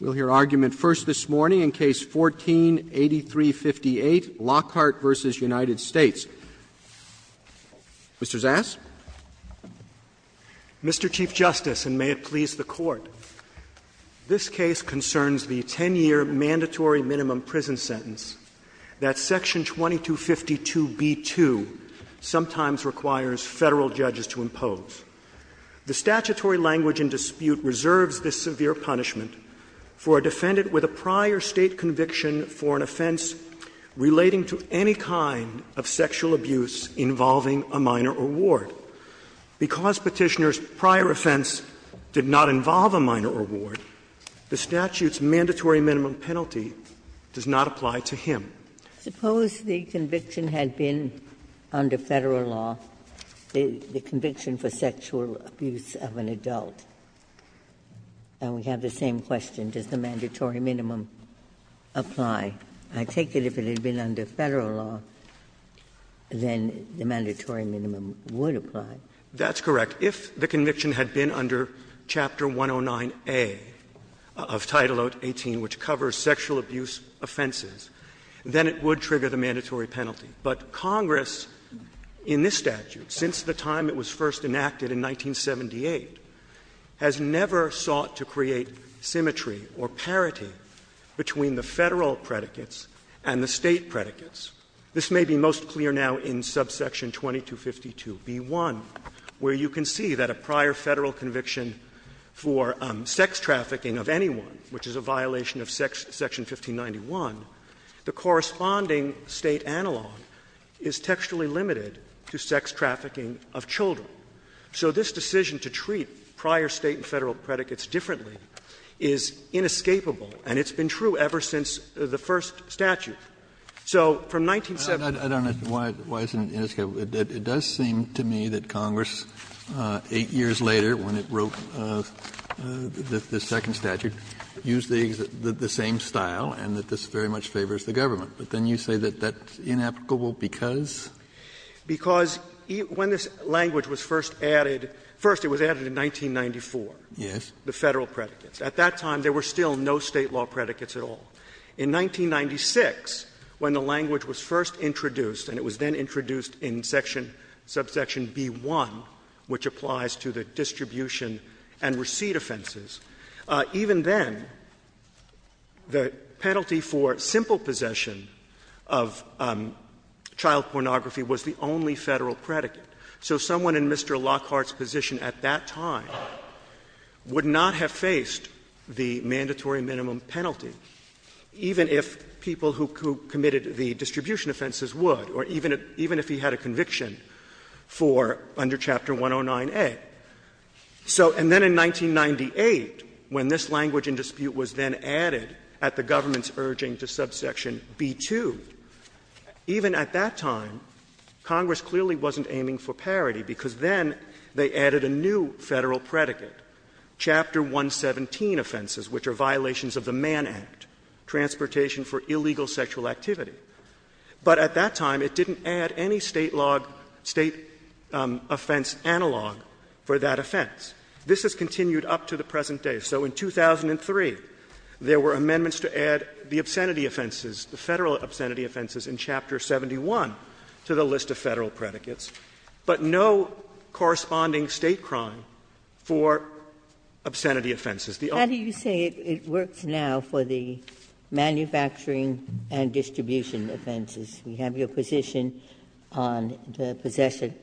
We'll hear argument first this morning in Case 14-8358, Lockhart v. United States. Mr. Zass. Mr. Chief Justice, and may it please the Court, this case concerns the 10-year mandatory minimum prison sentence that Section 2252b2 sometimes requires Federal judges to impose. The statutory language in dispute reserves this severe punishment for a defendant with a prior State conviction for an offense relating to any kind of sexual abuse involving a minor or ward. Because Petitioner's prior offense did not involve a minor or ward, the statute's mandatory minimum penalty does not apply to him. Ginsburg, suppose the conviction had been under Federal law, the conviction for sexual abuse of an adult, and we have the same question, does the mandatory minimum apply? I take it if it had been under Federal law, then the mandatory minimum would apply. That's correct. If the conviction had been under Chapter 109A of Title 18, which covers sexual abuse offenses, then it would trigger the mandatory penalty. But Congress, in this statute, since the time it was first enacted in 1978, has never sought to create symmetry or parity between the Federal predicates and the State predicates. This may be most clear now in subsection 2252b1, where you can see that a prior Federal conviction for sex trafficking of anyone, which is a violation of Section 1591, the corresponding State analog is textually limited to sex trafficking of children. So this decision to treat prior State and Federal predicates differently is inescapable, and it's been true ever since the first statute. So from 1970 to today, the Federal predicates are inescapable. Kennedy, I don't understand why it's inescapable. It does seem to me that Congress, 8 years later, when it wrote the second statute, used the same style and that this very much favors the government. But then you say that that's inescapable because? Because when this language was first added – first, it was added in 1994. Yes. The Federal predicates. At that time, there were still no State law predicates at all. In 1996, when the language was first introduced, and it was then introduced in section – subsection b1, which applies to the distribution and receipt offenses, even then, the penalty for simple possession of child pornography was the only Federal predicate. So someone in Mr. Lockhart's position at that time would not have faced the mandatory minimum penalty, even if people who committed the distribution offenses would, or even if he had a conviction for under Chapter 109A. So – and then in 1998, when this language in dispute was then added at the government's urging to subsection b2, even at that time, Congress clearly wasn't aiming for parity, because then they added a new Federal predicate, Chapter 117 offenses, which are violations of the Mann Act, transportation for illegal sexual activity. But at that time, it didn't add any State law – State offense analog for that offense. This has continued up to the present day. So in 2003, there were amendments to add the obscenity offenses, the Federal obscenity offenses in Chapter 71 to the list of Federal predicates, but no corresponding State crime for obscenity offenses. The only – Ginsburg, you are now for the manufacturing and distribution offenses. We have your position on the possession,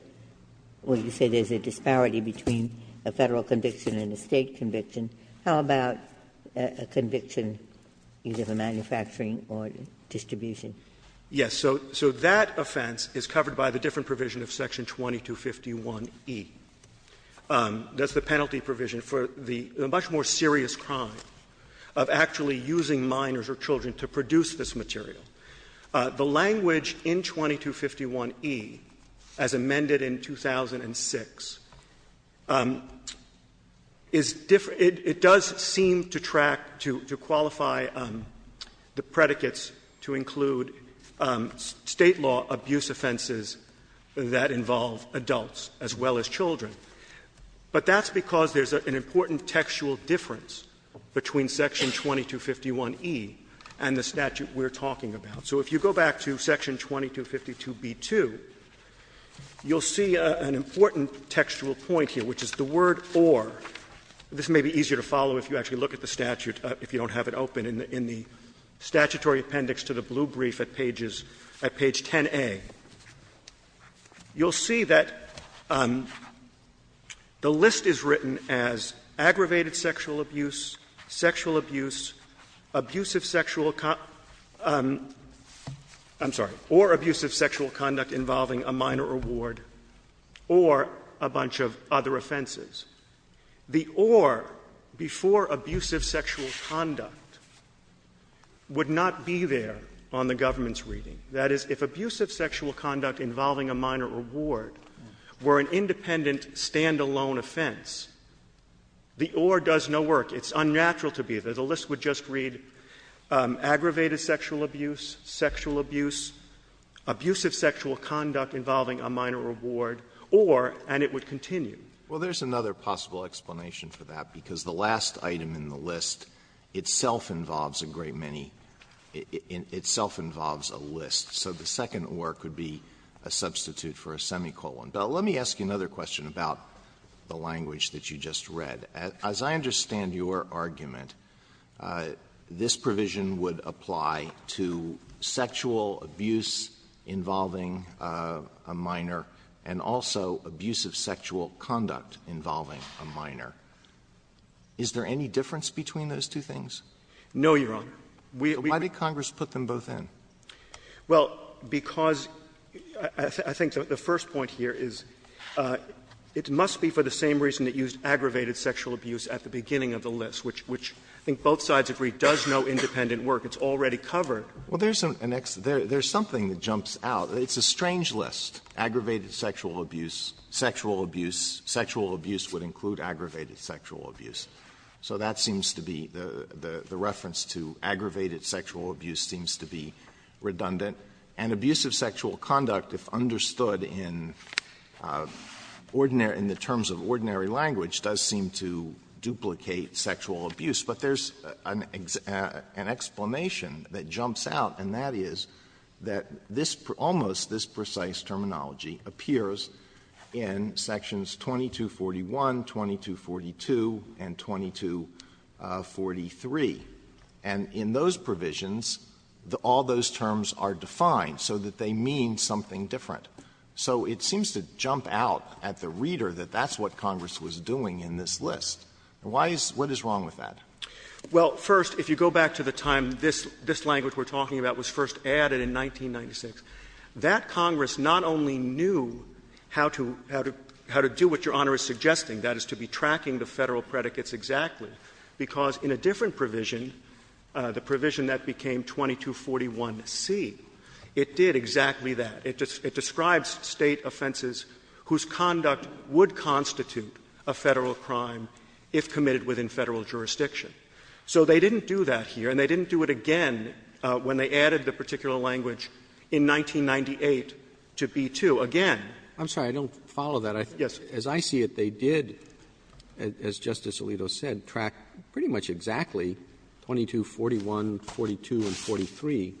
when you say there's a disparity between a Federal conviction and a State conviction. How about a conviction either for manufacturing or distribution? Yes. So that offense is covered by the different provision of Section 2251e. That's the penalty provision for the much more serious crime of actually using minors or children to produce this material. The language in 2251e, as amended in 2006, is different. It does seem to track, to qualify the predicates to include State law abuse offenses that involve adults as well as children. But that's because there's an important textual difference between Section 2251e and the statute we're talking about. So if you go back to Section 2252b-2, you'll see an important textual point here, which is the word ‶ or ″. This may be easier to follow if you actually look at the statute, if you don't have it open, in the statutory appendix to the blue brief at pages ‶ 10a ″. You'll see that the list is written as aggravated sexual abuse, sexual abuse, abusive sexual ‶ or ″ abuse of sexual conduct involving a minor or ward, or a bunch of other offenses. The ‶ or ″ before abusive sexual conduct would not be there on the government's reading. That is, if abusive sexual conduct involving a minor or ward were an independent standalone offense, the ‶ or ″ does no work. It's unnatural to be there. The list would just read aggravated sexual abuse, sexual abuse, abusive sexual conduct involving a minor or ward, or, and it would continue. Alitoson Well, there's another possible explanation for that, because the last item in the list itself involves a great many ‶ itself involves a list ″, so the second ‶ or ″ could be a substitute for a semicolon. Let me ask you another question about the language that you just read. As I understand your argument, this provision would apply to sexual abuse involving a minor and also abusive sexual conduct involving a minor. Is there any difference between those two things? Verrilli, No, Your Honor. We've been Why did Congress put them both in? Verrilli, Well, because I think the first point here is it must be for the same reason it used aggravated sexual abuse at the beginning of the list, which I think both sides agree does no independent work. It's already covered. Alitoson Well, there's an next ‶ there's something that jumps out. It's a strange list. Aggravated sexual abuse, sexual abuse, sexual abuse would include aggravated sexual abuse. So that seems to be the reference to aggravated sexual abuse seems to be redundant. And abusive sexual conduct, if understood in ordinary ‶ in the terms of ordinary language ″, does seem to duplicate sexual abuse. But there's an explanation that jumps out, and that is that this ‶ almost ‶ this terminology appears in sections 2241, 2242, and 2243. And in those provisions, all those terms are defined so that they mean something different. So it seems to jump out at the reader that that's what Congress was doing in this list. Why is ‶ what is wrong with that? ″ Verrilli, Well, first, if you go back to the time this language we're talking about was first added in 1996, that Congress not only knew how to do what Your Honor is suggesting, that is, to be tracking the Federal predicates exactly, because in a different provision, the provision that became 2241c, it did exactly that. It describes State offenses whose conduct would constitute a Federal crime if committed within Federal jurisdiction. So they didn't do that here, and they didn't do it again when they added the term ‶ almost ‶, when they added the particular language in 1998 to ‶ be too ″. Again, I'm sorry, I don't follow that. As I see it, they did, as Justice Alito said, track pretty much exactly 2241, 2242, and 2243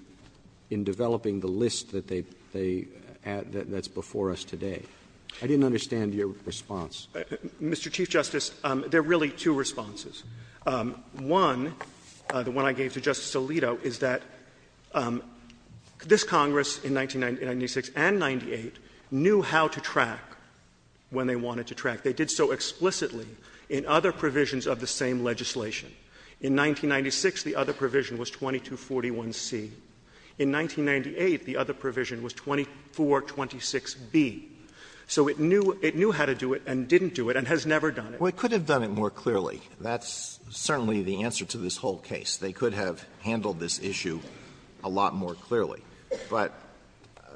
in developing the list that they add that's before us today. I didn't understand your response. Verrilli, Mr. Chief Justice, there are really two responses. One, the one I gave to Justice Alito, is that this Congress in 1996 and 1998 knew how to track when they wanted to track. They did so explicitly in other provisions of the same legislation. In 1996, the other provision was 2241c. In 1998, the other provision was 2426b. So it knew how to do it and didn't do it and has never done it. Well, it could have done it more clearly. That's certainly the answer to this whole case. They could have handled this issue a lot more clearly. But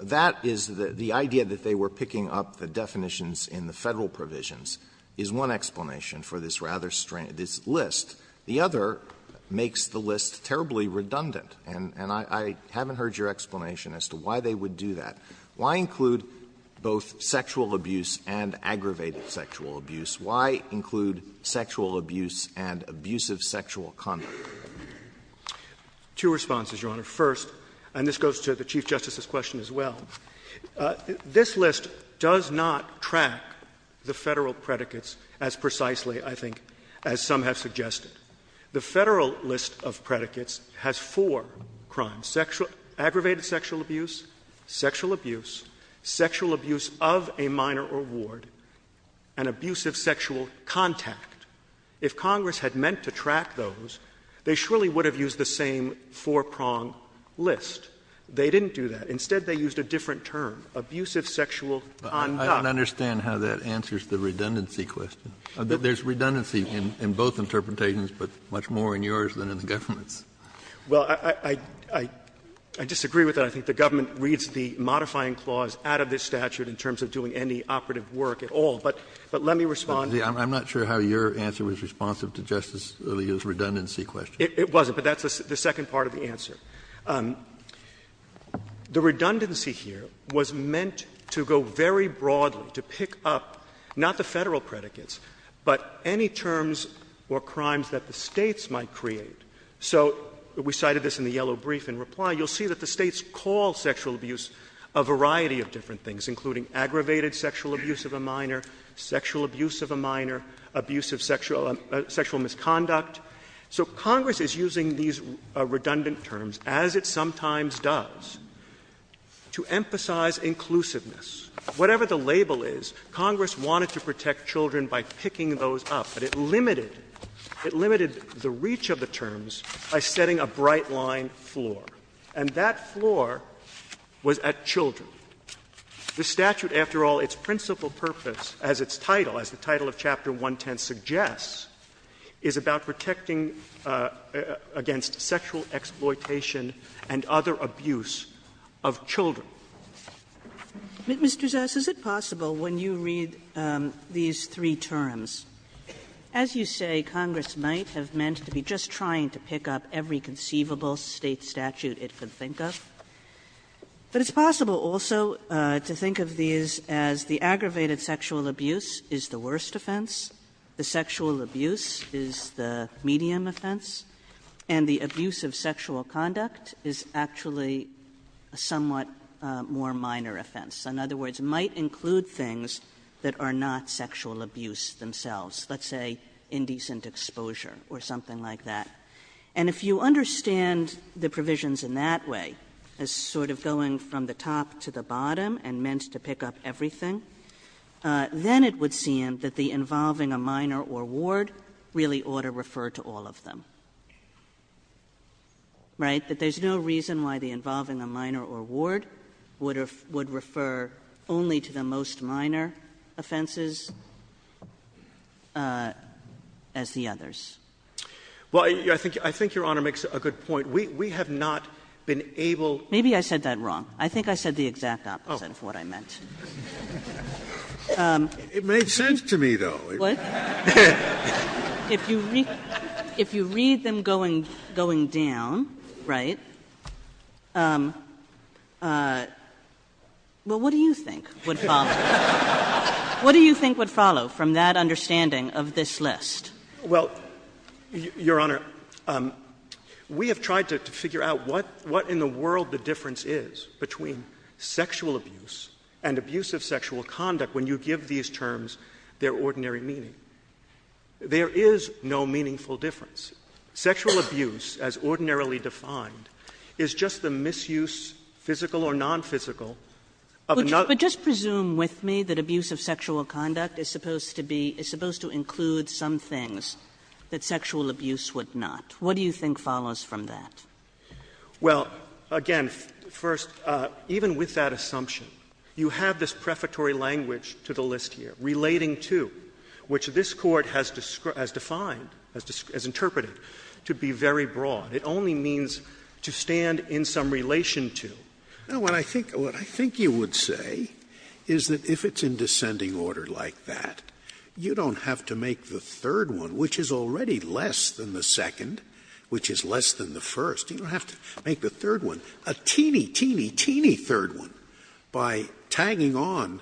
that is the idea that they were picking up the definitions in the Federal provisions is one explanation for this rather strange ‶ this list ″. The other makes the list terribly redundant, and I haven't heard your explanation as to why they would do that. Why include both sexual abuse and aggravated sexual abuse? Why include sexual abuse and abusive sexual conduct? Verrilli, Two responses, Your Honor. First, and this goes to the Chief Justice's question as well, this list does not track the Federal predicates as precisely, I think, as some have suggested. The Federal list of predicates has four crimes, aggravated sexual abuse, sexual abuse of a minor or ward, and abusive sexual contact. If Congress had meant to track those, they surely would have used the same four-prong list. They didn't do that. Instead, they used a different term, abusive sexual conduct. Kennedy, I don't understand how that answers the redundancy question. There's redundancy in both interpretations, but much more in yours than in the government's. Verrilli, Well, I disagree with that. I think the government reads the modifying clause out of this statute in terms of doing any operative work at all. But let me respond. Kennedy, I'm not sure how your answer was responsive to Justice Alito's redundancy question. Verrilli, It wasn't, but that's the second part of the answer. The redundancy here was meant to go very broadly, to pick up not the Federal predicates, but any terms or crimes that the States might create. So we cited this in the yellow brief in reply. You'll see that the States call sexual abuse a variety of different things, including aggravated sexual abuse of a minor, sexual abuse of a minor, abusive sexual misconduct. So Congress is using these redundant terms, as it sometimes does, to emphasize inclusiveness. Whatever the label is, Congress wanted to protect children by picking those up. But it limited, it limited the reach of the terms by setting a bright-line floor, and that floor was at children. The statute, after all, its principal purpose, as its title, as the title of Chapter 110 suggests, is about protecting against sexual exploitation and other abuse of children. Kagan. Kagan. Kagan. Mr. Zass, is it possible, when you read these three terms, as you say, Congress might have meant to be just trying to pick up every conceivable State statute it could think of, but it's possible also to think of these as the aggravated sexual abuse is the worst offense, the sexual abuse is the medium offense, and the abuse of sexual conduct is actually a somewhat more minor offense. In other words, it might include things that are not sexual abuse themselves. Let's say indecent exposure or something like that. And if you understand the provisions in that way, as sort of going from the top to the bottom and meant to pick up everything, then it would seem that the involving a minor or ward really ought to refer to all of them. Right? That there's no reason why the involving a minor or ward would refer only to the most minor offenses as the others. Well, I think Your Honor makes a good point. We have not been able to. Maybe I said that wrong. I think I said the exact opposite of what I meant. It made sense to me, though. If you read them going down, right, well, what do you think would follow? What do you think would follow from that understanding of this list? Well, Your Honor, we have tried to figure out what in the world the difference is between sexual abuse and abuse of sexual conduct when you give these terms their ordinary meaning. There is no meaningful difference. Sexual abuse, as ordinarily defined, is just the misuse, physical or nonphysical, of another. But just presume with me that abuse of sexual conduct is supposed to be — is supposed to include some things that sexual abuse would not. What do you think follows from that? Well, again, first, even with that assumption, you have this prefatory language to the list here, relating to, which this Court has defined, has interpreted, to be very broad. It only means to stand in some relation to. Now, what I think you would say is that if it's in descending order like that, you don't have to make the third one, which is already less than the second, which is less than the first, you don't have to make the third one a teeny, teeny, teeny third one by tagging on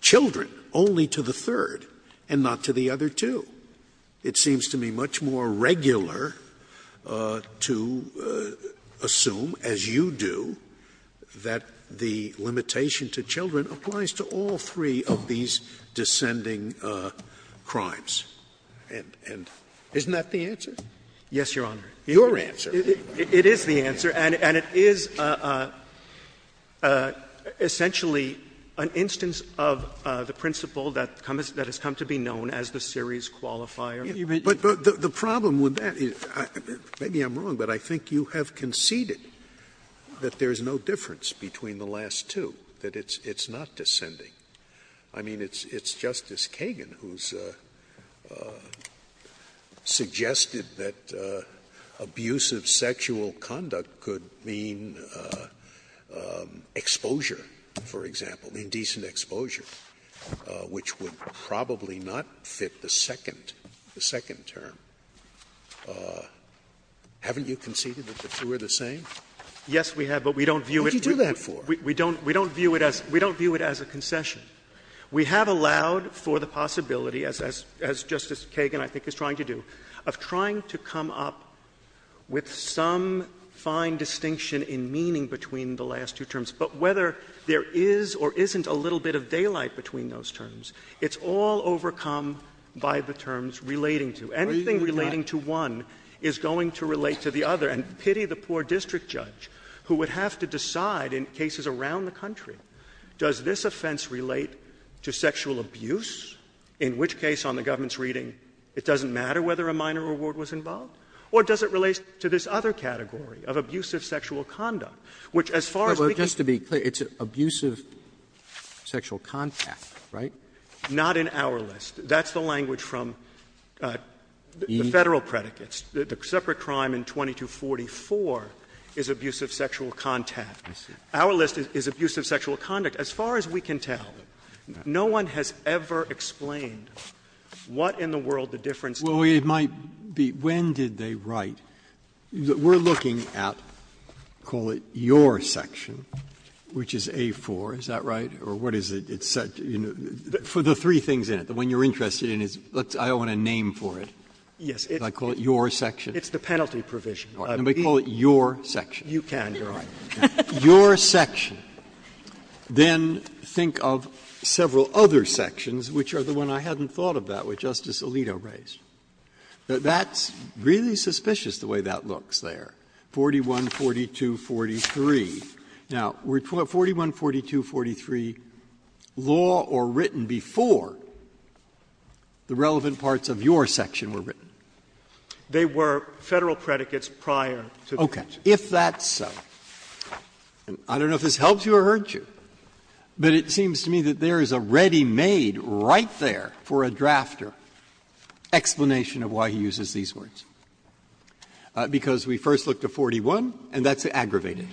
children only to the third and not to the other two. It seems to me much more regular to assume, as you do, that the limitation to children applies to all three of these descending crimes. And isn't that the answer? Yes, Your Honor. Your answer. It is the answer, and it is essentially an instance of the principle that has come to be known as the series qualifier. But the problem with that is — maybe I'm wrong, but I think you have conceded that there is no difference between the last two, that it's not descending. I mean, it's Justice Kagan who's suggested that abuse of sexual conduct could mean exposure, for example, indecent exposure, which would probably not fit the second — the second term. Haven't you conceded that the two are the same? Yes, we have, but we don't view it as a concession. We have allowed for the possibility, as Justice Kagan, I think, is trying to do, of trying to come up with some fine distinction in meaning between the last two terms. But whether there is or isn't a little bit of daylight between those terms, it's all overcome by the terms relating to. Anything relating to one is going to relate to the other. And pity the poor district judge who would have to decide in cases around the country, does this offense relate to sexual abuse, in which case on the government's reading, it doesn't matter whether a minor reward was involved, or does it relate to this other category of abusive sexual conduct, which as far as we can see, it's an abusive sexual contact, right? Not in our list. That's the language from the Federal predicates. The separate crime in 2244 is abusive sexual contact. Our list is abusive sexual conduct. As far as we can tell, no one has ever explained what in the world the difference is. Breyer. Well, it might be when did they write? We're looking at, call it, your section, which is A-4, is that right? Or what is it? It's set, you know, for the three things in it. The one you're interested in is, I don't want a name for it. Yes. Can I call it your section? It's the penalty provision. Can we call it your section? You can, Your Honor. Your section. Then think of several other sections, which are the one I hadn't thought of that which Justice Alito raised. That's really suspicious, the way that looks there, 41, 42, 43. Now, 41, 42, 43, law or written before the relevant parts of your section were written? They were Federal predicates prior to the section. If that's so, and I don't know if this helps you or hurts you, but it seems to me that there is a ready-made right there for a drafter explanation of why he uses these words, because we first look to 41, and that's aggravated.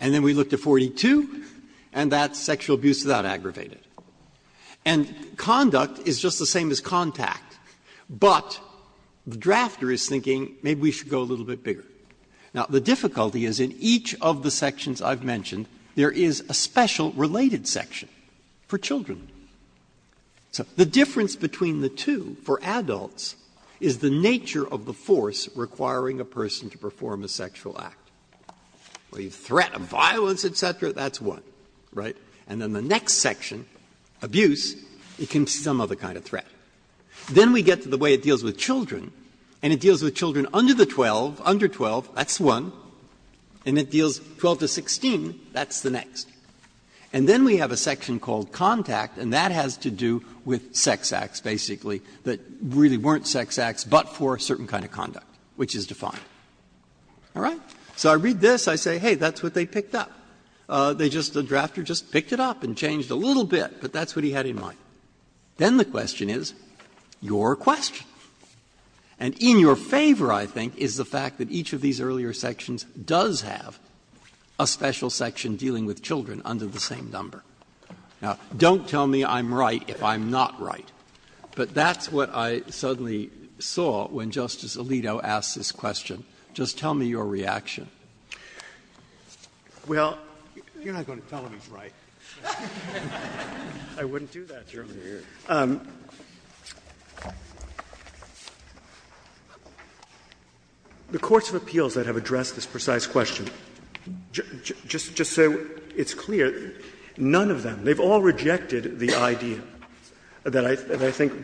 And then we look to 42, and that's sexual abuse without aggravated. And conduct is just the same as contact, but the drafter is thinking maybe we should go a little bit bigger. Now, the difficulty is in each of the sections I've mentioned, there is a special related section for children. So the difference between the two for adults is the nature of the force requiring a person to perform a sexual act. A threat of violence, et cetera, that's one, right? And then the next section, abuse, it can be some other kind of threat. Then we get to the way it deals with children, and it deals with children under the 12, under 12, that's one, and it deals 12 to 16, that's the next. And then we have a section called contact, and that has to do with sex acts, basically, that really weren't sex acts but for a certain kind of conduct, which is defined. All right? So I read this, I say, hey, that's what they picked up. They just, the drafter just picked it up and changed a little bit, but that's what he had in mind. Then the question is, your question, and in your favor, I think, is the fact that each of these earlier sections does have a special section dealing with children under the same number. Now, don't tell me I'm right if I'm not right, but that's what I suddenly saw when Justice Alito asked this question. Just tell me your reaction. Well, you're not going to tell me I'm right. I wouldn't do that. The courts of appeals that have addressed this precise question, just so it's clear, none of them, they've all rejected the idea that I think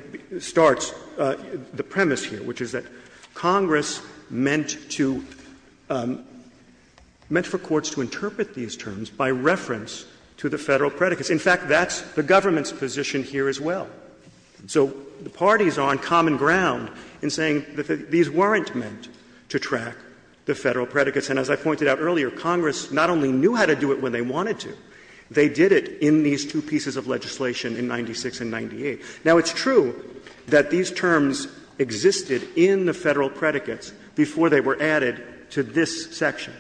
starts the premise here, which is that Congress meant to, meant for courts to interpret these terms by reference to the Federal predicates. In fact, that's the government's position here as well. So the parties are on common ground in saying that these weren't meant to track the Federal predicates, and as I pointed out earlier, Congress not only knew how to do it when they wanted to, they did it in these two pieces of legislation in 96 and 98. Now, it's true that these terms existed in the Federal predicates before they were added to this section,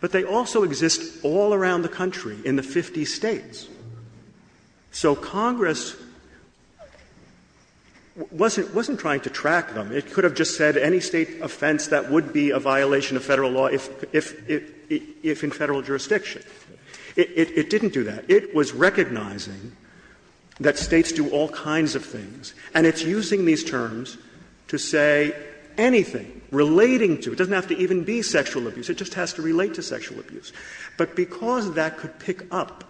but they also exist all around the country in the 50 States. So Congress wasn't trying to track them. It could have just said any State offense that would be a violation of Federal law if in Federal jurisdiction. It didn't do that. It was recognizing that States do all kinds of things, and it's using these terms to say anything relating to, it doesn't have to even be sexual abuse, it just has to relate to sexual abuse. But because that could pick up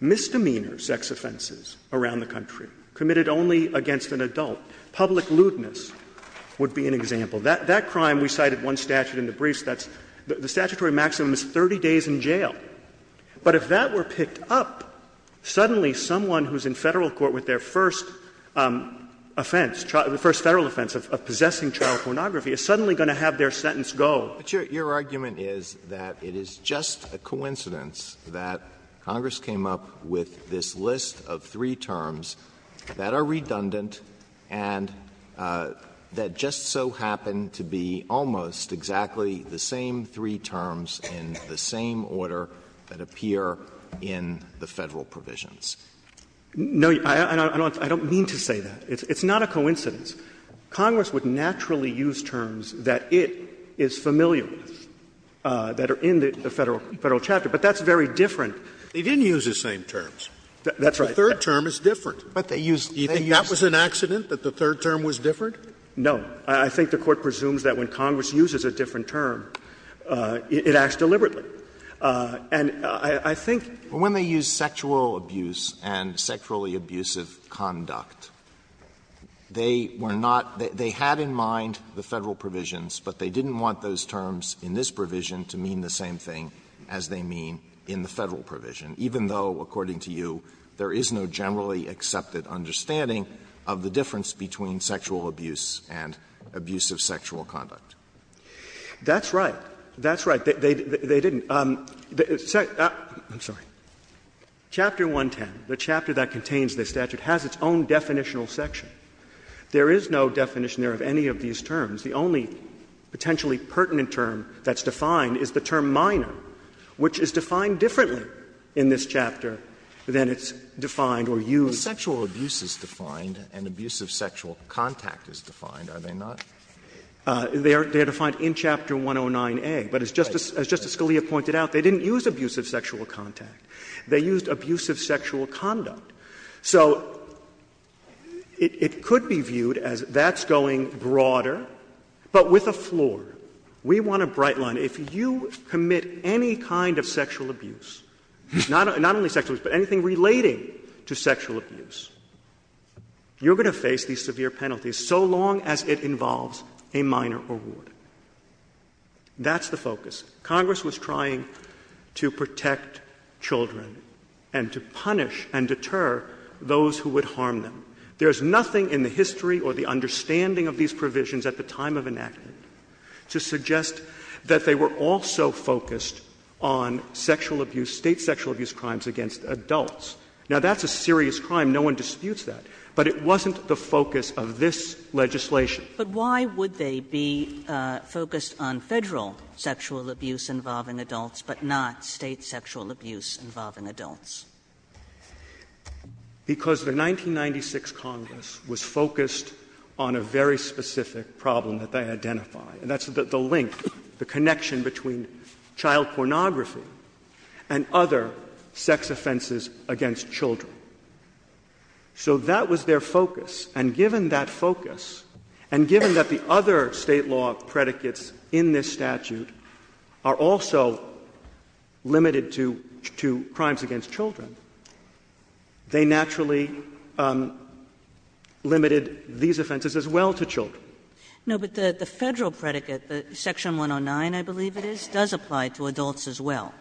misdemeanor sex offenses around the country, committed only against an adult, public lewdness would be an example. That crime, we cited one statute in the briefs, that's the statutory maximum is 30 days in jail. But if that were picked up, suddenly someone who is in Federal court with their first offense, the first Federal offense of possessing child pornography is suddenly going to have their sentence go. Alito, your argument is that it is just a coincidence that Congress came up with this list of three terms that are redundant and that just so happen to be almost exactly the same three terms in the same order that appear in the Federal provisions. No, I don't mean to say that. It's not a coincidence. Congress would naturally use terms that it is familiar with, that are in the Federal chapter, but that's very different. They didn't use the same terms. That's right. But the third term is different. But they used the same terms. Do you think that was an accident, that the third term was different? No. I think the Court presumes that when Congress uses a different term, it acts deliberately. And I think when they use sexual abuse and sexually abusive conduct, they were not they had in mind the Federal provisions, but they didn't want those terms in this provision to mean the same thing as they mean in the Federal provision, even though according to you, there is no generally accepted understanding of the difference between sexual abuse and abusive sexual conduct. That's right. That's right. They didn't. I'm sorry. Chapter 110, the chapter that contains this statute, has its own definitional section. There is no definition there of any of these terms. The only potentially pertinent term that's defined is the term minor, which is defined differently in this chapter than it's defined or used. When sexual abuse is defined and abusive sexual contact is defined, are they not? They are defined in Chapter 109A. But as Justice Scalia pointed out, they didn't use abusive sexual contact. They used abusive sexual conduct. So it could be viewed as that's going broader, but with a floor. We want a bright line. If you commit any kind of sexual abuse, not only sexual abuse, but anything relating to sexual abuse, you're going to face these severe penalties so long as it involves a minor or ward. That's the focus. Congress was trying to protect children and to punish and deter those who would harm them. There is nothing in the history or the understanding of these provisions at the time of enactment to suggest that they were also focused on sexual abuse, State sexual abuse crimes against adults. Now, that's a serious crime. No one disputes that. But it wasn't the focus of this legislation. Kagan. But why would they be focused on Federal sexual abuse involving adults, but not State sexual abuse involving adults? Because the 1996 Congress was focused on a very specific problem that they identified, and that's the link, the connection between child pornography and other sex offenses against children. So that was their focus. And given that focus, and given that the other State law predicates in this statute are also limited to crimes against children, they naturally limited these offenses as well to children. No, but the Federal predicate, Section 109, I believe it is, does apply to adults as well.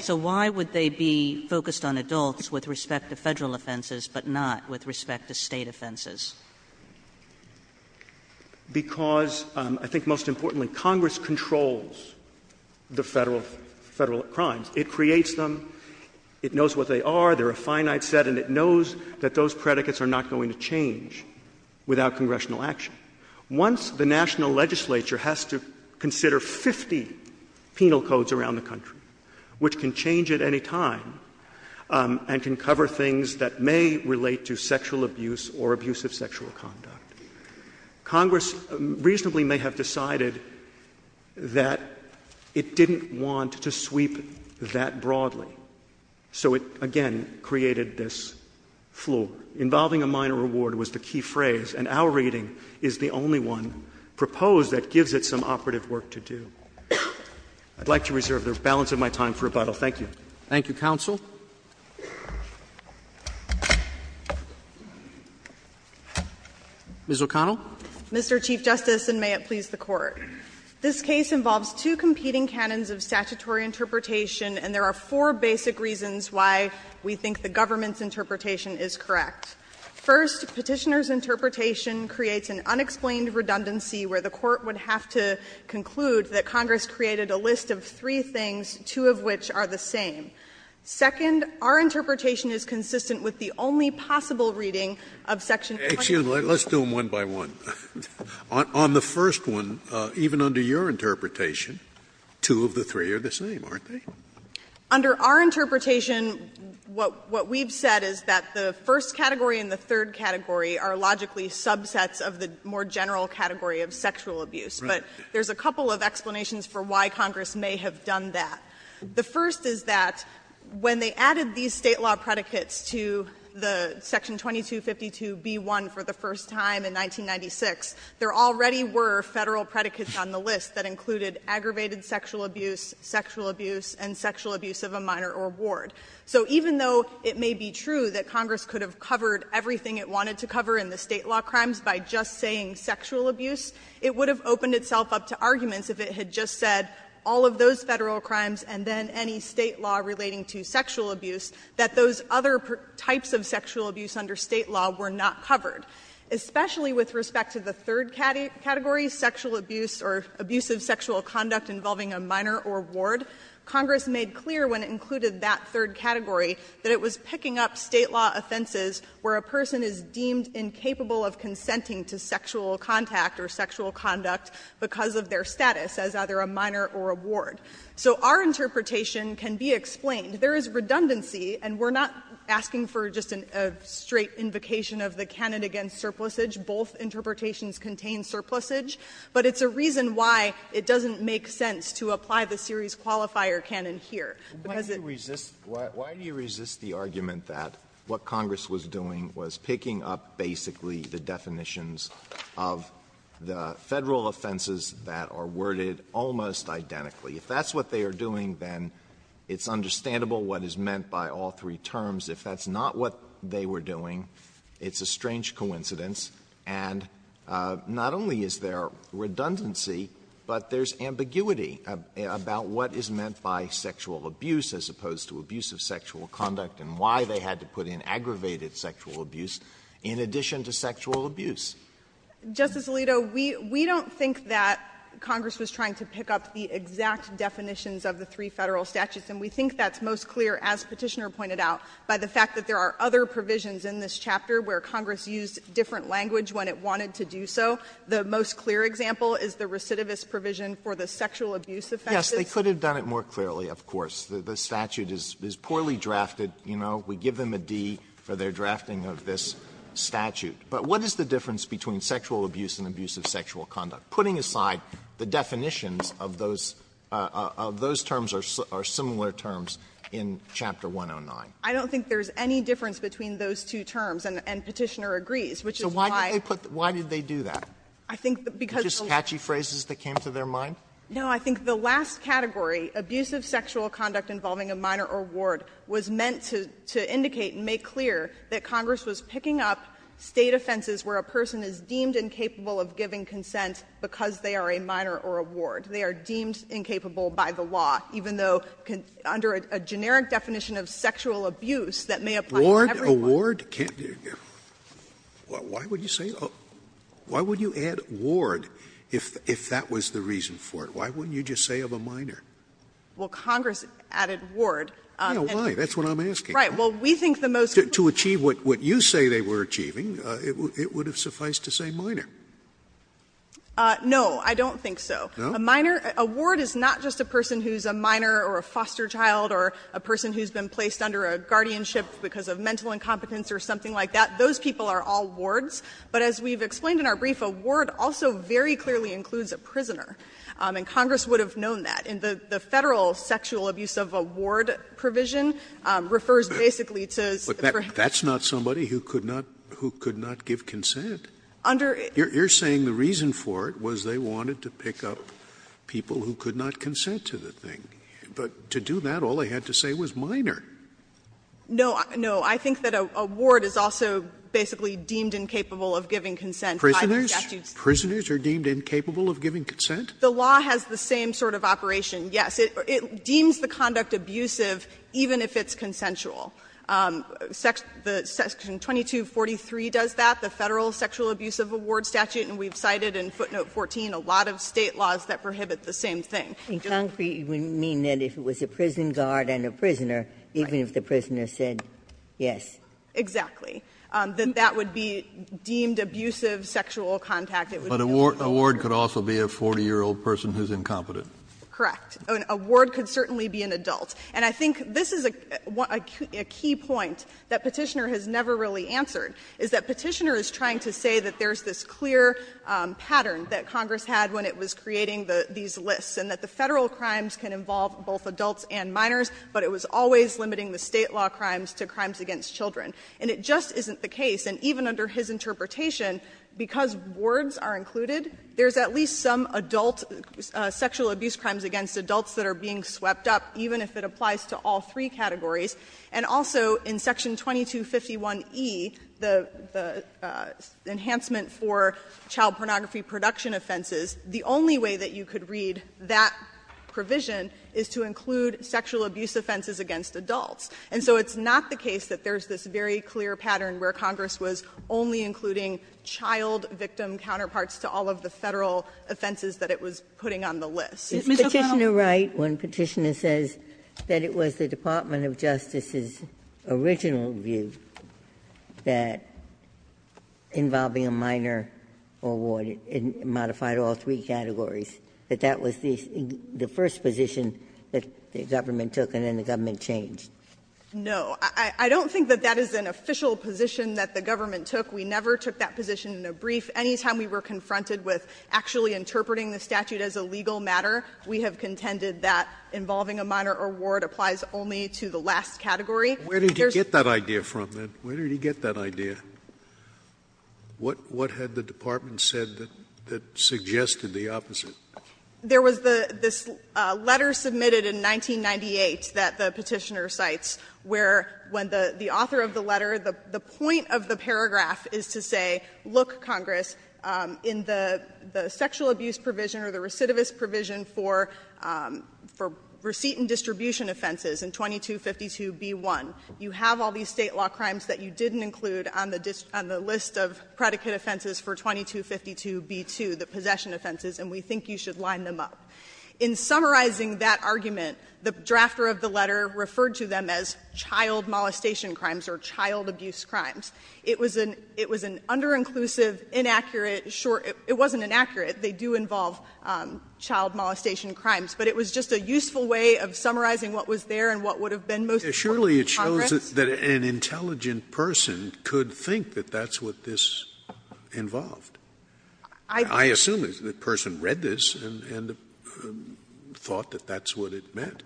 So why would they be focused on adults with respect to Federal offenses, but not with respect to State offenses? Because I think most importantly, Congress controls the Federal crimes. It creates them. It knows what they are. They are a finite set, and it knows that those predicates are not going to change without congressional action. Once the national legislature has to consider 50 penal codes around the country, which can change at any time and can cover things that may relate to sexual abuse or abusive sexual conduct, Congress reasonably may have decided that it didn't want to sweep that broadly. So it, again, created this flaw. Involving a minor reward was the key phrase, and our reading is the only one proposed that gives it some operative work to do. I'd like to reserve the balance of my time for rebuttal. Thank you. Roberts. Thank you, counsel. Ms. O'Connell. Mr. Chief Justice, and may it please the Court. This case involves two competing canons of statutory interpretation, and there are four basic reasons why we think the government's interpretation is correct. First, the Court would have to conclude that Congress created a list of three things, two of which are the same. Second, our interpretation is consistent with the only possible reading of section 22. Scalia Excuse me. Let's do them one by one. On the first one, even under your interpretation, two of the three are the same, aren't they? Under our interpretation, what we've said is that the first category and the third category are logically subsets of the more general category of sexual abuse. But there's a couple of explanations for why Congress may have done that. The first is that when they added these state law predicates to the section 2252b1 for the first time in 1996, there already were Federal predicates on the list that included aggravated sexual abuse, sexual abuse, and sexual abuse of a minor or ward. So even though it may be true that Congress could have covered everything it wanted to cover in the state law crimes by just saying sexual abuse, it would have opened itself up to arguments if it had just said all of those Federal crimes and then any state law relating to sexual abuse, that those other types of sexual abuse under state law were not covered. Especially with respect to the third category, sexual abuse or abusive sexual conduct involving a minor or ward, Congress made clear when it included that third category that it was picking up state law offenses where a person is deemed incapable of consenting to sexual contact or sexual conduct because of their status as either a minor or a ward. So our interpretation can be explained. There is redundancy, and we're not asking for just a straight invocation of the canon against surplusage. Both interpretations contain surplusage, but it's a reason why it doesn't make sense to apply the series qualifier canon here, because it's the same. Alito, why do you resist the argument that what Congress was doing was picking up basically the definitions of the Federal offenses that are worded almost identically? If that's what they are doing, then it's understandable what is meant by all three terms. If that's not what they were doing, it's a strange coincidence, and not only is there redundancy, but there's ambiguity about what is meant by sexual abuse as opposed to abusive sexual conduct and why they had to put in aggravated sexual abuse in addition to sexual abuse. Justice Alito, we don't think that Congress was trying to pick up the exact definitions of the three Federal statutes, and we think that's most clear, as Petitioner pointed out, by the fact that there are other provisions in this chapter where Congress used different language when it wanted to do so. The most clear example is the recidivist provision for the sexual abuse offenses. Alito, they could have done it more clearly, of course. The statute is poorly drafted. You know, we give them a D for their drafting of this statute. But what is the difference between sexual abuse and abusive sexual conduct? Putting aside the definitions of those terms or similar terms in Chapter 109. I don't think there's any difference between those two terms, and Petitioner agrees, which is why. So why did they put the why did they do that? I think because of the last No, I think the last category, abusive sexual conduct involving a minor or ward, was meant to indicate and make clear that Congress was picking up State offenses where a person is deemed incapable of giving consent because they are a minor or a ward. They are deemed incapable by the law, even though under a generic definition of sexual abuse that may apply to everyone. Scalia Ward, a ward, why would you say why would you add ward if that was the reason for it? Why wouldn't you just say of a minor? Well, Congress added ward. Yeah, why? That's what I'm asking. Right. Well, we think the most To achieve what you say they were achieving, it would have sufficed to say minor. No, I don't think so. No? A minor, a ward is not just a person who is a minor or a foster child or a person who has been placed under a guardianship because of mental incompetence or something like that. Those people are all wards. But as we have explained in our brief, a ward also very clearly includes a prisoner, and Congress would have known that. And the Federal sexual abuse of a ward provision refers basically to a prisoner. But that's not somebody who could not give consent. Under You're saying the reason for it was they wanted to pick up people who could not consent to the thing. But to do that, all they had to say was minor. No, I think that a ward is also basically deemed incapable of giving consent by the statute. Prisoners are deemed incapable of giving consent? The law has the same sort of operation, yes. It deems the conduct abusive even if it's consensual. Section 2243 does that, the Federal sexual abuse of a ward statute, and we've cited in footnote 14 a lot of State laws that prohibit the same thing. In concrete, you mean that if it was a prison guard and a prisoner, even if the prisoner said yes? Exactly. That that would be deemed abusive sexual contact. But a ward could also be a 40-year-old person who's incompetent. Correct. A ward could certainly be an adult. And I think this is a key point that Petitioner has never really answered, is that Petitioner is trying to say that there's this clear pattern that Congress had when it was creating these lists, and that the Federal crimes can involve both adults and minors, but it was always limiting the State law crimes to crimes against children. And it just isn't the case. And even under his interpretation, because wards are included, there's at least some adult sexual abuse crimes against adults that are being swept up, even if it applies to all three categories. And also in Section 2251e, the enhancement for child pornography production offenses, the only way that you could read that provision is to include sexual abuse offenses against adults. And so it's not the case that there's this very clear pattern where Congress was only including child victim counterparts to all of the Federal offenses that it was putting on the list. Ms. O'Connell. Is Petitioner right when Petitioner says that it was the Department of Justice's original view that involving a minor or ward, it modified all three categories, that that was the first position that the government took, and then the government changed? No. I don't think that that is an official position that the government took. We never took that position in a brief. Any time we were confronted with actually interpreting the statute as a legal matter, we have contended that involving a minor or ward applies only to the last category. Where did he get that idea from, then? Where did he get that idea? What had the Department said that suggested the opposite? There was this letter submitted in 1998 that the Petitioner cites, where when the author of the letter, the point of the paragraph is to say, look, Congress, in the sexual abuse provision or the recidivist provision for receipt and distribution offenses in 2252b1, you have all these State law crimes that you didn't include on the list of predicate offenses for 2252b2, the possession offenses, and we think you should line them up. In summarizing that argument, the drafter of the letter referred to them as child molestation crimes or child abuse crimes. It was an under-inclusive, inaccurate, short — it wasn't inaccurate. They do involve child molestation crimes. But it was just a useful way of summarizing what was there and what would have been most helpful to Congress. Scalia, surely it shows that an intelligent person could think that that's what this involved. I assume the person read this and thought that that's what it meant.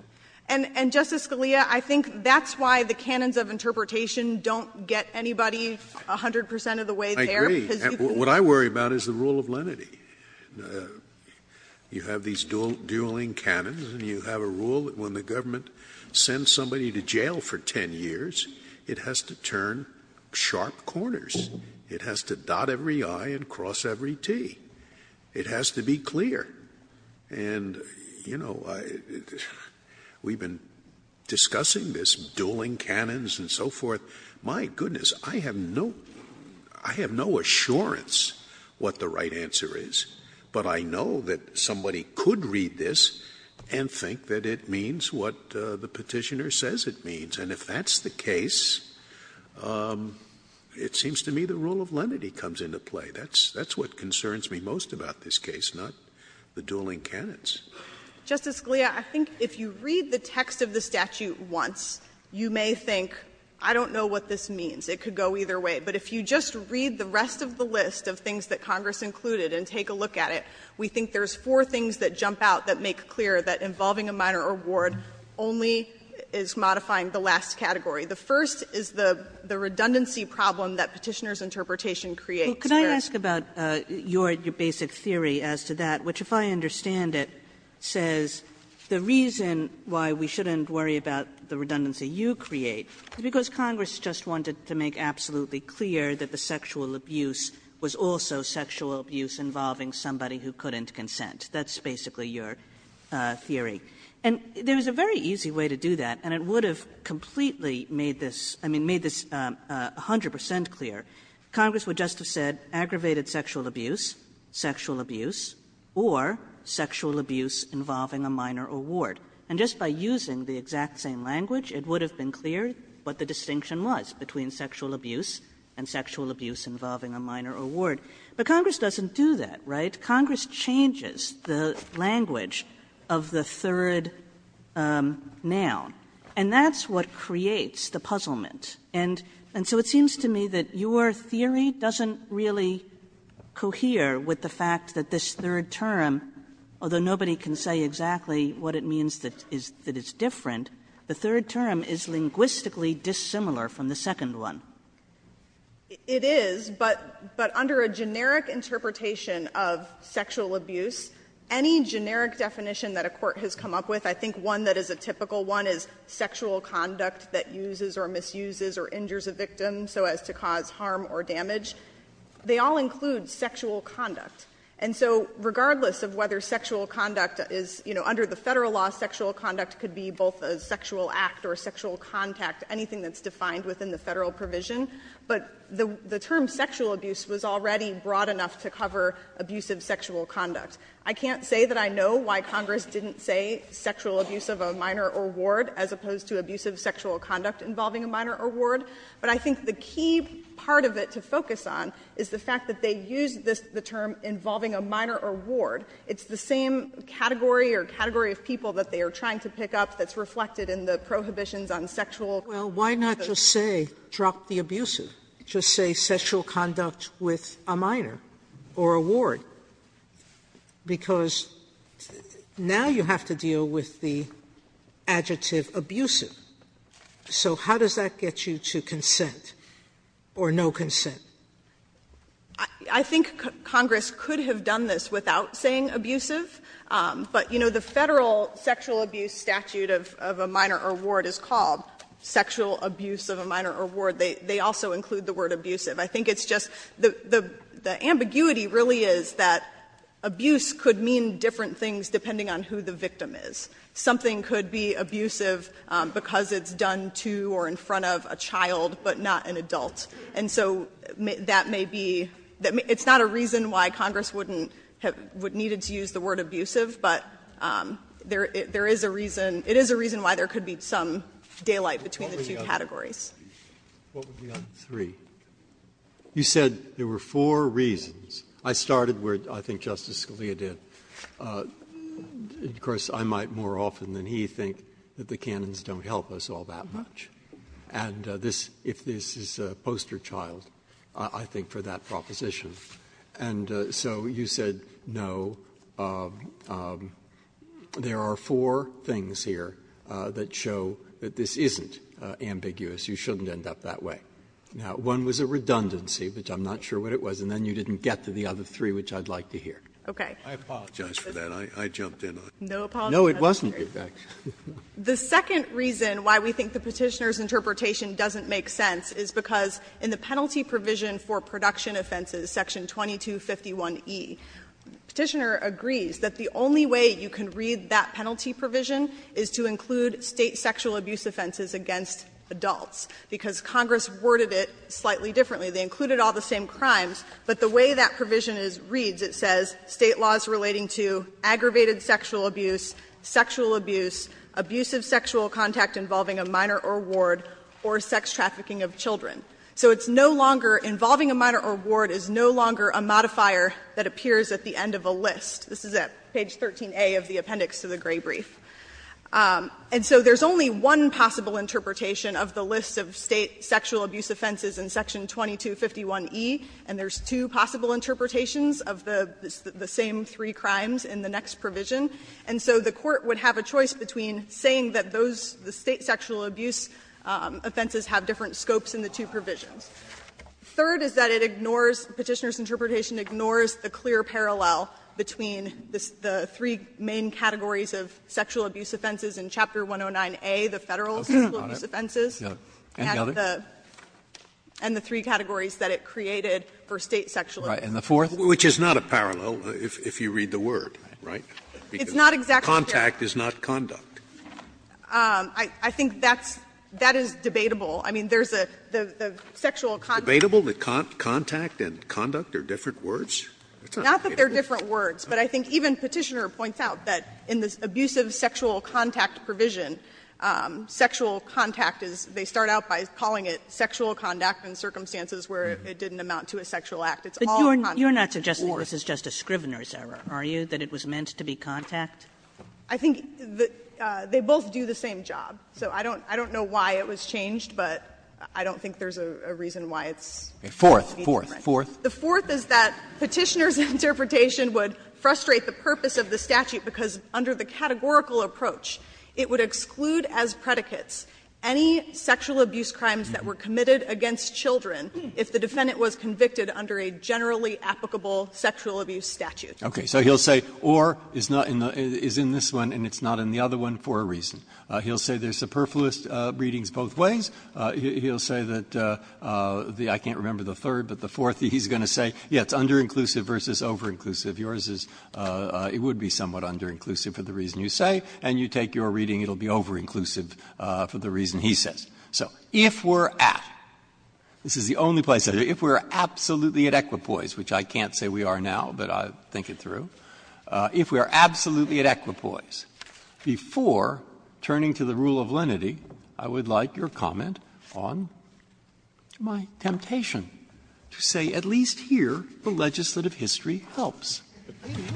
And, Justice Scalia, I think that's why the canons of interpretation don't get anybody 100 percent of the way there. I agree. What I worry about is the rule of lenity. You have these dueling canons, and you have a rule that when the government sends somebody to jail for 10 years, it has to turn sharp corners. It has to dot every I and cross every T. It has to be clear. And, you know, we've been discussing this dueling canons and so forth. My goodness, I have no — I have no assurance what the right answer is. But I know that somebody could read this and think that it means what the Petitioner says it means. And if that's the case, it seems to me the rule of lenity comes into play. That's what concerns me most about this case, not the dueling canons. Justice Scalia, I think if you read the text of the statute once, you may think, I don't know what this means. It could go either way. But if you just read the rest of the list of things that Congress included and take a look at it, we think there's four things that jump out that make clear that involving a minor or ward only is modifying the last category. The first is the redundancy problem that Petitioner's interpretation creates there. Kagan Well, could I ask about your basic theory as to that, which, if I understand it, says the reason why we shouldn't worry about the redundancy you create is because Congress just wanted to make absolutely clear that the sexual abuse was also sexual abuse involving somebody who couldn't consent. That's basically your theory. And there is a very easy way to do that, and it would have completely made this – I mean, made this 100 percent clear. Congress would just have said aggravated sexual abuse, sexual abuse, or sexual abuse involving a minor or ward. And just by using the exact same language, it would have been clear what the distinction was between sexual abuse and sexual abuse involving a minor or ward. But Congress doesn't do that, right? Congress changes the language of the third noun, and that's what creates the puzzlement. And so it seems to me that your theory doesn't really cohere with the fact that this third term, although nobody can say exactly what it means that it's different, the third term is linguistically dissimilar from the second one. It is, but under a generic interpretation of sexual abuse, any generic definition that a court has come up with, I think one that is a typical one is sexual conduct that uses or misuses or injures a victim so as to cause harm or damage. They all include sexual conduct. And so regardless of whether sexual conduct is, you know, under the Federal law, sexual conduct could be both a sexual act or a sexual contact, anything that's But the term sexual abuse was already broad enough to cover abusive sexual conduct. I can't say that I know why Congress didn't say sexual abuse of a minor or ward as opposed to abusive sexual conduct involving a minor or ward. But I think the key part of it to focus on is the fact that they used this, the term involving a minor or ward. It's the same category or category of people that they are trying to pick up that's reflected in the prohibitions on sexual. Sotomayor, why not just say, drop the abusive, just say sexual conduct with a minor or a ward, because now you have to deal with the adjective abusive. So how does that get you to consent or no consent? I think Congress could have done this without saying abusive, but, you know, the Federal sexual abuse statute of a minor or ward is called sexual abuse of a minor or ward. They also include the word abusive. I think it's just, the ambiguity really is that abuse could mean different things depending on who the victim is. Something could be abusive because it's done to or in front of a child, but not an adult. And so that may be, it's not a reason why Congress wouldn't, would need it to use the word abusive. But there is a reason, it is a reason why there could be some daylight between the two categories. Breyer, what would be on three? You said there were four reasons. I started where I think Justice Scalia did. Of course, I might more often than he think that the canons don't help us all that much. And this, if this is a poster child, I think for that proposition. And so you said, no, there are four things here that show that this isn't ambiguous. You shouldn't end up that way. Now, one was a redundancy, which I'm not sure what it was, and then you didn't get to the other three, which I'd like to hear. I apologize for that. I jumped in on it. No, it wasn't. The second reason why we think the Petitioner's interpretation doesn't make sense is because in the penalty provision for production offenses, section 2251e, Petitioner agrees that the only way you can read that penalty provision is to include State sexual abuse offenses against adults, because Congress worded it slightly differently. They included all the same crimes, but the way that provision is read, it says State laws relating to aggravated sexual abuse, sexual abuse, abusive sexual contact involving a minor or ward, or sex trafficking of children. So it's no longer involving a minor or ward is no longer a modifier that appears at the end of a list. This is at page 13a of the appendix to the Gray brief. And so there's only one possible interpretation of the list of State sexual abuse offenses in section 2251e, and there's two possible interpretations of the same three crimes in the next provision. And so the Court would have a choice between saying that those, the State sexual abuse offenses have different scopes in the two provisions. Third is that it ignores, Petitioner's interpretation ignores the clear parallel between the three main categories of sexual abuse offenses in Chapter 109a, the Federal sexual abuse offenses, and the three categories that it created for State sexual abuse offenses. And the fourth? Scalia Which is not a parallel, if you read the word, right? Because contact is not conduct. O'Connor I think that's, that is debatable. I mean, there's a, the sexual contact. Scalia Debatable, the contact and conduct are different words? O'Connor Not that they're different words, but I think even Petitioner points out that in the abusive sexual contact provision, sexual contact is, they start out by calling it sexual conduct in circumstances where it didn't amount to a sexual act. It's all conduct. Kagan But you're not suggesting this is just a Scrivener's error, are you, that it was meant to be contact? O'Connor I think that they both do the same job. So I don't, I don't know why it was changed, but I don't think there's a reason why it's being different. Roberts The fourth, fourth, fourth. O'Connor The fourth is that Petitioner's interpretation would frustrate the purpose of the statute because under the categorical approach it would exclude as predicates any sexual abuse crimes that were committed against children if the defendant was convicted under a generally applicable sexual abuse statute. Roberts Okay. So he'll say or is not in the, is in this one and it's not in the other one for a reason. He'll say there's superfluous readings both ways. He'll say that the, I can't remember the third, but the fourth, he's going to say, yes, it's under-inclusive versus over-inclusive. Yours is, it would be somewhat under-inclusive for the reason you say, and you take your reading, it will be over-inclusive for the reason he says. So if we're at, this is the only place I know, if we're absolutely at equipoise, which I can't say we are now, but I'll think it through. If we are absolutely at equipoise, before turning to the rule of lenity, I would like your comment on my temptation to say at least here the legislative history helps.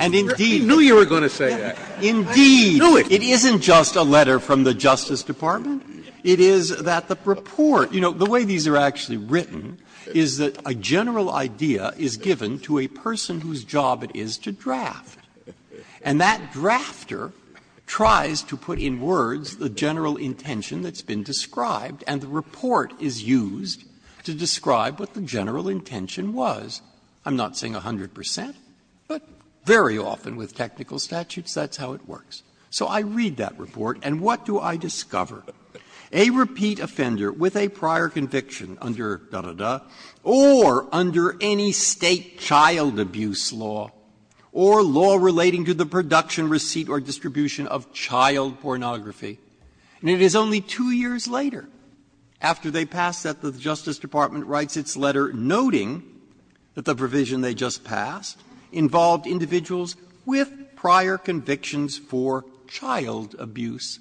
And indeed. Scalia I knew you were going to say that. Roberts Indeed. Scalia I knew it. Roberts It isn't just a letter from the Justice Department. It is that the report, you know, the way these are actually written is that a general idea is given to a person whose job it is to draft. And that drafter tries to put in words the general intention that's been described, and the report is used to describe what the general intention was. I'm not saying 100 percent, but very often with technical statutes, that's how it works. So I read that report, and what do I discover? A repeat offender with a prior conviction under da, da, da, or under any State child abuse law, or law relating to the production, receipt, or distribution of child pornography, and it is only two years later after they pass that the Justice Department writes its letter noting that the provision they just passed involved individuals with prior convictions for child abuse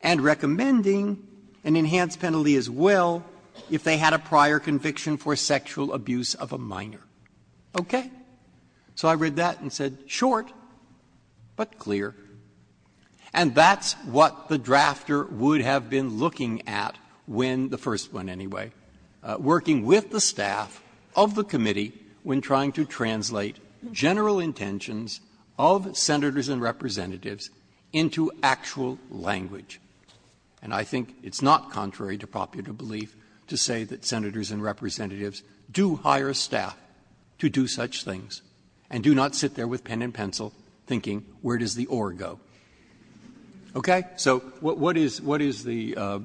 and recommending an enhanced penalty as well if they had a prior conviction for sexual abuse of a minor. Okay? So I read that and said, short, but clear. And that's what the drafter would have been looking at when, the first one anyway, working with the staff of the committee when trying to translate general intentions of Senators and Representatives into actual language. And I think it's not contrary to popular belief to say that Senators and Representatives do hire staff to do such things and do not sit there with pen and pencil thinking, where does the or go? Okay? So what is the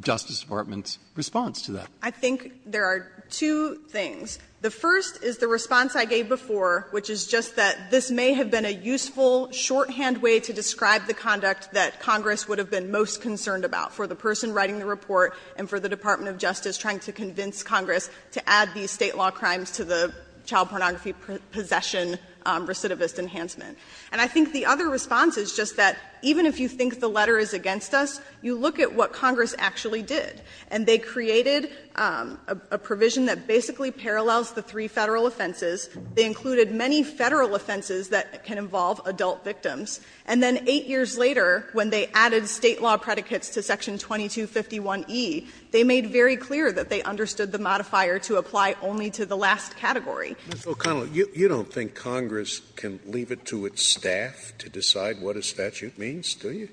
Justice Department's response to that? I think there are two things. The first is the response I gave before, which is just that this may have been a useful shorthand way to describe the conduct that Congress would have been most concerned about for the person writing the report and for the Department of Justice trying to convince Congress to add these State law crimes to the child pornography possession recidivist enhancement. And I think the other response is just that even if you think the letter is against us, you look at what Congress actually did. And they created a provision that basically parallels the three Federal offenses. They included many Federal offenses that can involve adult victims. And then 8 years later, when they added State law predicates to section 2251e, they made very clear that they understood the modifier to apply only to the last category. Scalia, you don't think Congress can leave it to its staff to decide what a statute means, do you?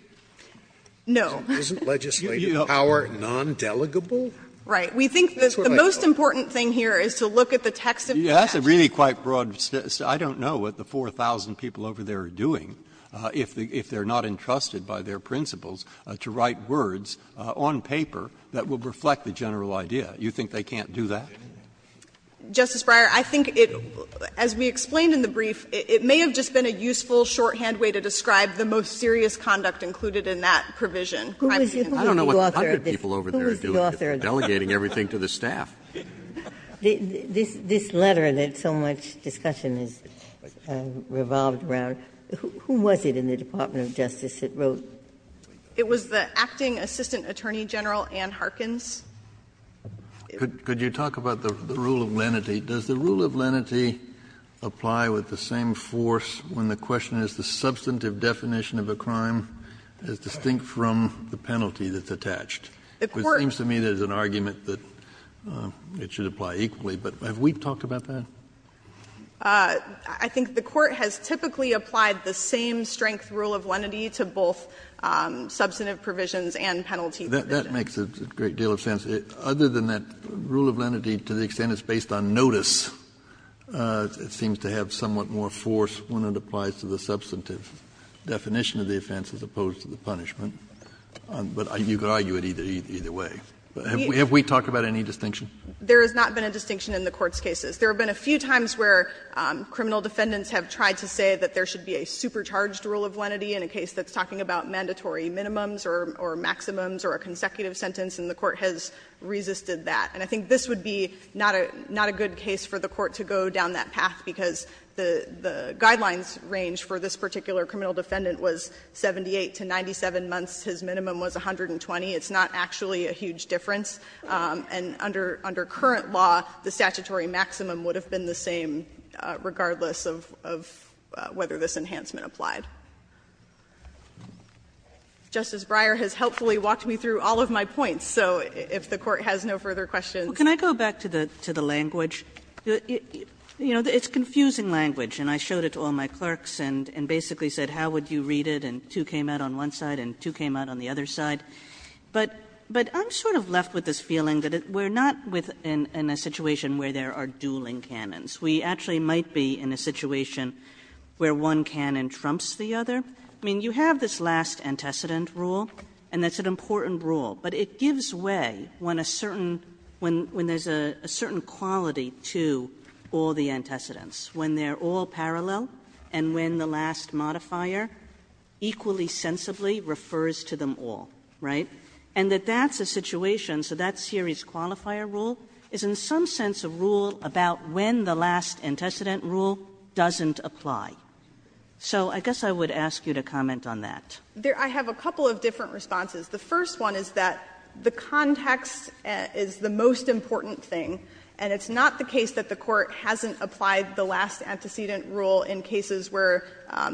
No. Isn't legislative power non-delegable? Right. We think the most important thing here is to look at the text of the statute. That's a really quite broad statute. I don't know what the 4,000 people over there are doing if they are not entrusted by their principals to write words on paper that would reflect the general idea. You think they can't do that? Justice Breyer, I think it, as we explained in the brief, it may have just been a useful shorthand way to describe the most serious conduct included in that provision. I don't know what the hundred people over there are doing if they are delegating everything to the staff. This letter that so much discussion has revolved around, who was it in the Department of Justice that wrote? It was the acting assistant attorney general, Ann Harkins. Could you talk about the rule of lenity? Does the rule of lenity apply with the same force when the question is the substantive definition of a crime is distinct from the penalty that's attached? It seems to me there's an argument that it should apply equally, but have we talked about that? I think the Court has typically applied the same strength rule of lenity to both substantive provisions and penalty provisions. Kennedy, that makes a great deal of sense. Other than that, rule of lenity, to the extent it's based on notice, it seems to have somewhat more force when it applies to the substantive definition of the offense as opposed to the punishment. But you could argue it either way. Have we talked about any distinction? There has not been a distinction in the Court's cases. There have been a few times where criminal defendants have tried to say that there should be a supercharged rule of lenity in a case that's talking about mandatory minimums or maximums or a consecutive sentence, and the Court has resisted that. And I think this would be not a good case for the Court to go down that path, because the guidelines range for this particular criminal defendant was 78 to 97 months. His minimum was 120. It's not actually a huge difference. And under current law, the statutory maximum would have been the same regardless of whether this enhancement applied. Justice Breyer has helpfully walked me through all of my points, so if the Court has no further questions. Kagan. Kagan. You know, it's confusing language, and I showed it to all my clerks and basically said how would you read it, and two came out on one side and two came out on the other side, but I'm sort of left with this feeling that we're not within a situation where there are dueling canons. We actually might be in a situation where one canon trumps the other. I mean, you have this last antecedent rule, and that's an important rule, but it gives way when a certain – when there's a certain quality to all the antecedents, when they're all parallel and when the last modifier equally sensibly refers to them all, right? And that that's a situation, so that series qualifier rule is in some sense a rule about when the last antecedent rule doesn't apply. So I guess I would ask you to comment on that. O'Connell. I have a couple of different responses. The first one is that the context is the most important thing, and it's not the case that the Court hasn't applied the last antecedent rule in cases where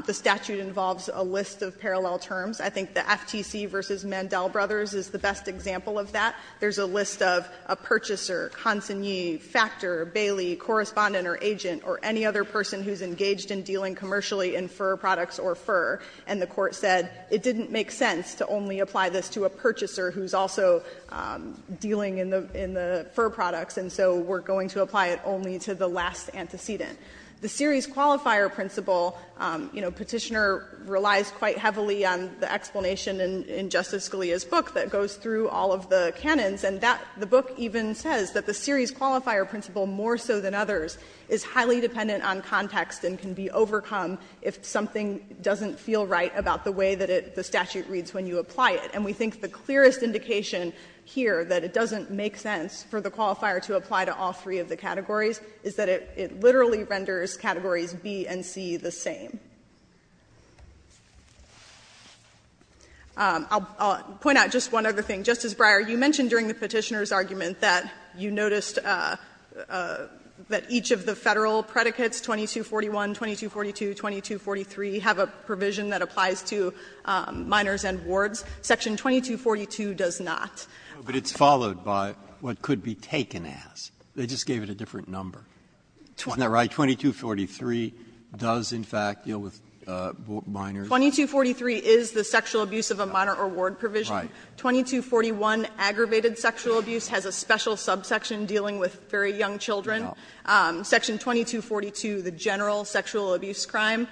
the statute involves a list of parallel terms. I think the FTC v. Mandel Brothers is the best example of that. There's a list of a purchaser, consignee, factor, bailee, correspondent or agent, or any other person who's engaged in dealing commercially in fur products or fur, and the Court said it didn't make sense to only apply this to a purchaser who's also dealing in the – in the fur products, and so we're going to apply it only to the last antecedent. The series qualifier principle, you know, Petitioner relies quite heavily on the explanation in Justice Scalia's book that goes through all of the canons, and that – the book even says that the series qualifier principle more so than others is highly dependent on context and can be overcome if something doesn't feel right about the way that it – the statute reads when you apply it, and we think the clearest indication here that it doesn't make sense for the qualifier to apply to all three of the categories is that it literally renders categories B and C the same. I'll point out just one other thing. Justice Breyer, you mentioned during the Petitioner's argument that you noticed that each of the Federal predicates, 2241, 2242, 2243, have a provision that applies to minors and wards. Section 2242 does not. Breyer, but it's followed by what could be taken as. They just gave it a different number. Isn't that right? 2243 does, in fact, deal with minors. 2243 is the sexual abuse of a minor or ward provision. Right. 2241, aggravated sexual abuse, has a special subsection dealing with very young children. Section 2242, the general sexual abuse crime,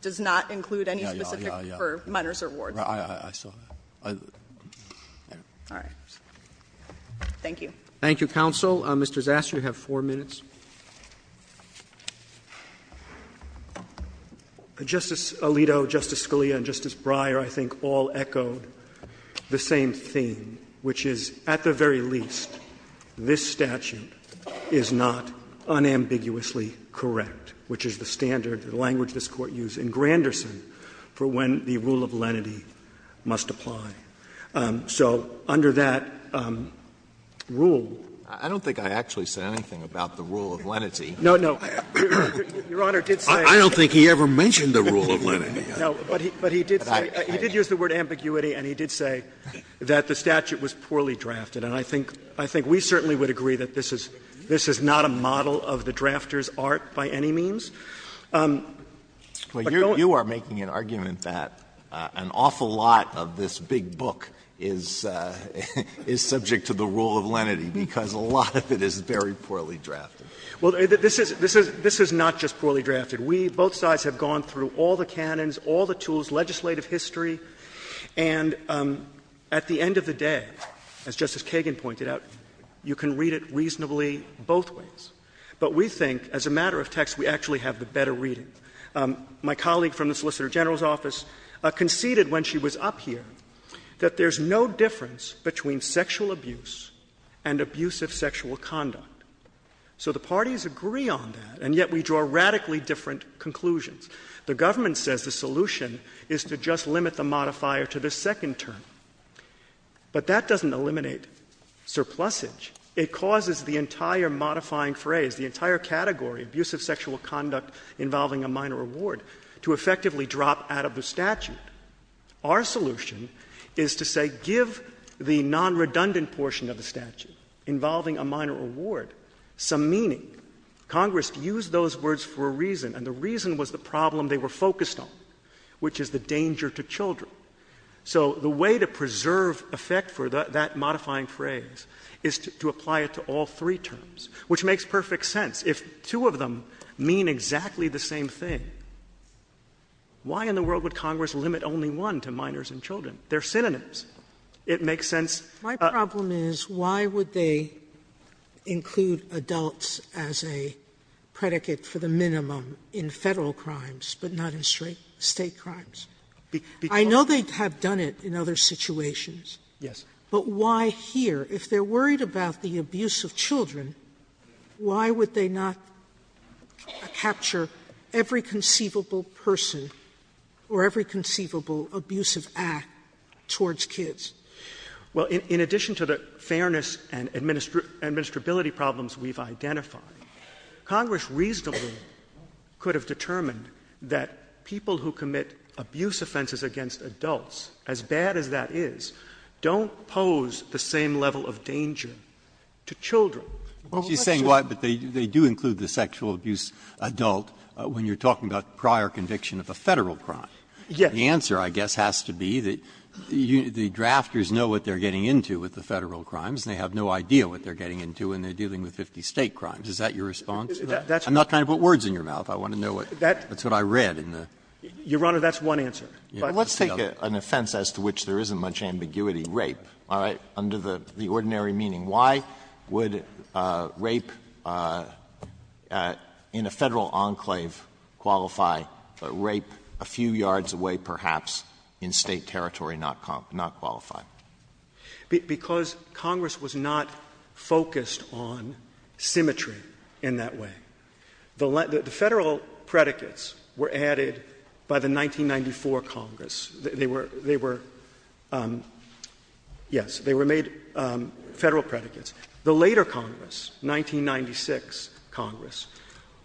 does not include any specific for minors or wards. I saw that. All right. Thank you. Thank you, counsel. Mr. Zastrow, you have four minutes. Justice Alito, Justice Scalia, and Justice Breyer, I think, all echoed the same theme, which is, at the very least, this statute is not unambiguously correct, which is the standard, the language this Court used in Granderson for when the rule of lenity must apply. So under that rule. I don't think I actually said anything about the rule of lenity. No, no. Your Honor did say. I don't think he ever mentioned the rule of lenity. No, but he did say, he did use the word ambiguity, and he did say that the statute was poorly drafted. And I think we certainly would agree that this is not a model of the drafter's art by any means. But going. You are making an argument that an awful lot of this big book is subject to the rule of lenity because a lot of it is very poorly drafted. Well, this is not just poorly drafted. We, both sides, have gone through all the canons, all the tools, legislative history. And at the end of the day, as Justice Kagan pointed out, you can read it reasonably both ways. But we think, as a matter of text, we actually have the better reading. My colleague from the Solicitor General's office conceded when she was up here that there's no difference between sexual abuse and abuse of sexual conduct. So the parties agree on that, and yet we draw radically different conclusions. The government says the solution is to just limit the modifier to the second term. But that doesn't eliminate surplusage. It causes the entire modifying phrase, the entire category, abuse of sexual conduct involving a minor reward, to effectively drop out of the statute. Our solution is to say give the non-redundant portion of the statute involving a minor reward some meaning. Congress used those words for a reason, and the reason was the problem they were focused on, which is the danger to children. So the way to preserve effect for that modifying phrase is to apply it to all three terms, which makes perfect sense. If two of them mean exactly the same thing, why in the world would Congress limit only one to minors and children? They're synonyms. It makes sense. Sotomayor, My problem is why would they include adults as a predicate for the minimum in Federal crimes, but not in State crimes? I know they have done it in other situations. But why here? If they're worried about the abuse of children, why would they not capture every conceivable person or every conceivable abusive act towards kids? Well, in addition to the fairness and administrability problems we've identified, Congress reasonably could have determined that people who commit abuse offenses against adults, as bad as that is, don't pose the same level of danger to children. Breyer, she's saying why, but they do include the sexual abuse adult when you're talking about prior conviction of a Federal crime. The answer, I guess, has to be that the drafters know what they're getting into with the Federal crimes, and they have no idea what they're getting into when they're dealing with 50 State crimes. Is that your response? I'm not trying to put words in your mouth. I want to know what's what I read in the. Your Honor, that's one answer. But let's take an offense as to which there isn't much ambiguity, rape, all right, under the ordinary meaning. Why would rape in a Federal enclave qualify, but rape a few yards away, perhaps, in State territory not qualify? Because Congress was not focused on symmetry in that way. The Federal predicates were added by the 1994 Congress. They were, yes, they were made Federal predicates. The later Congress, 1996 Congress,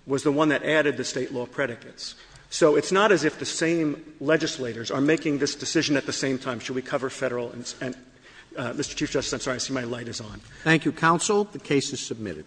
was the one that added the State law predicates. So it's not as if the same legislators are making this decision at the same time, should we cover Federal and Mr. Chief Justice, I'm sorry, I see my light is on. Thank you, counsel. The case is submitted.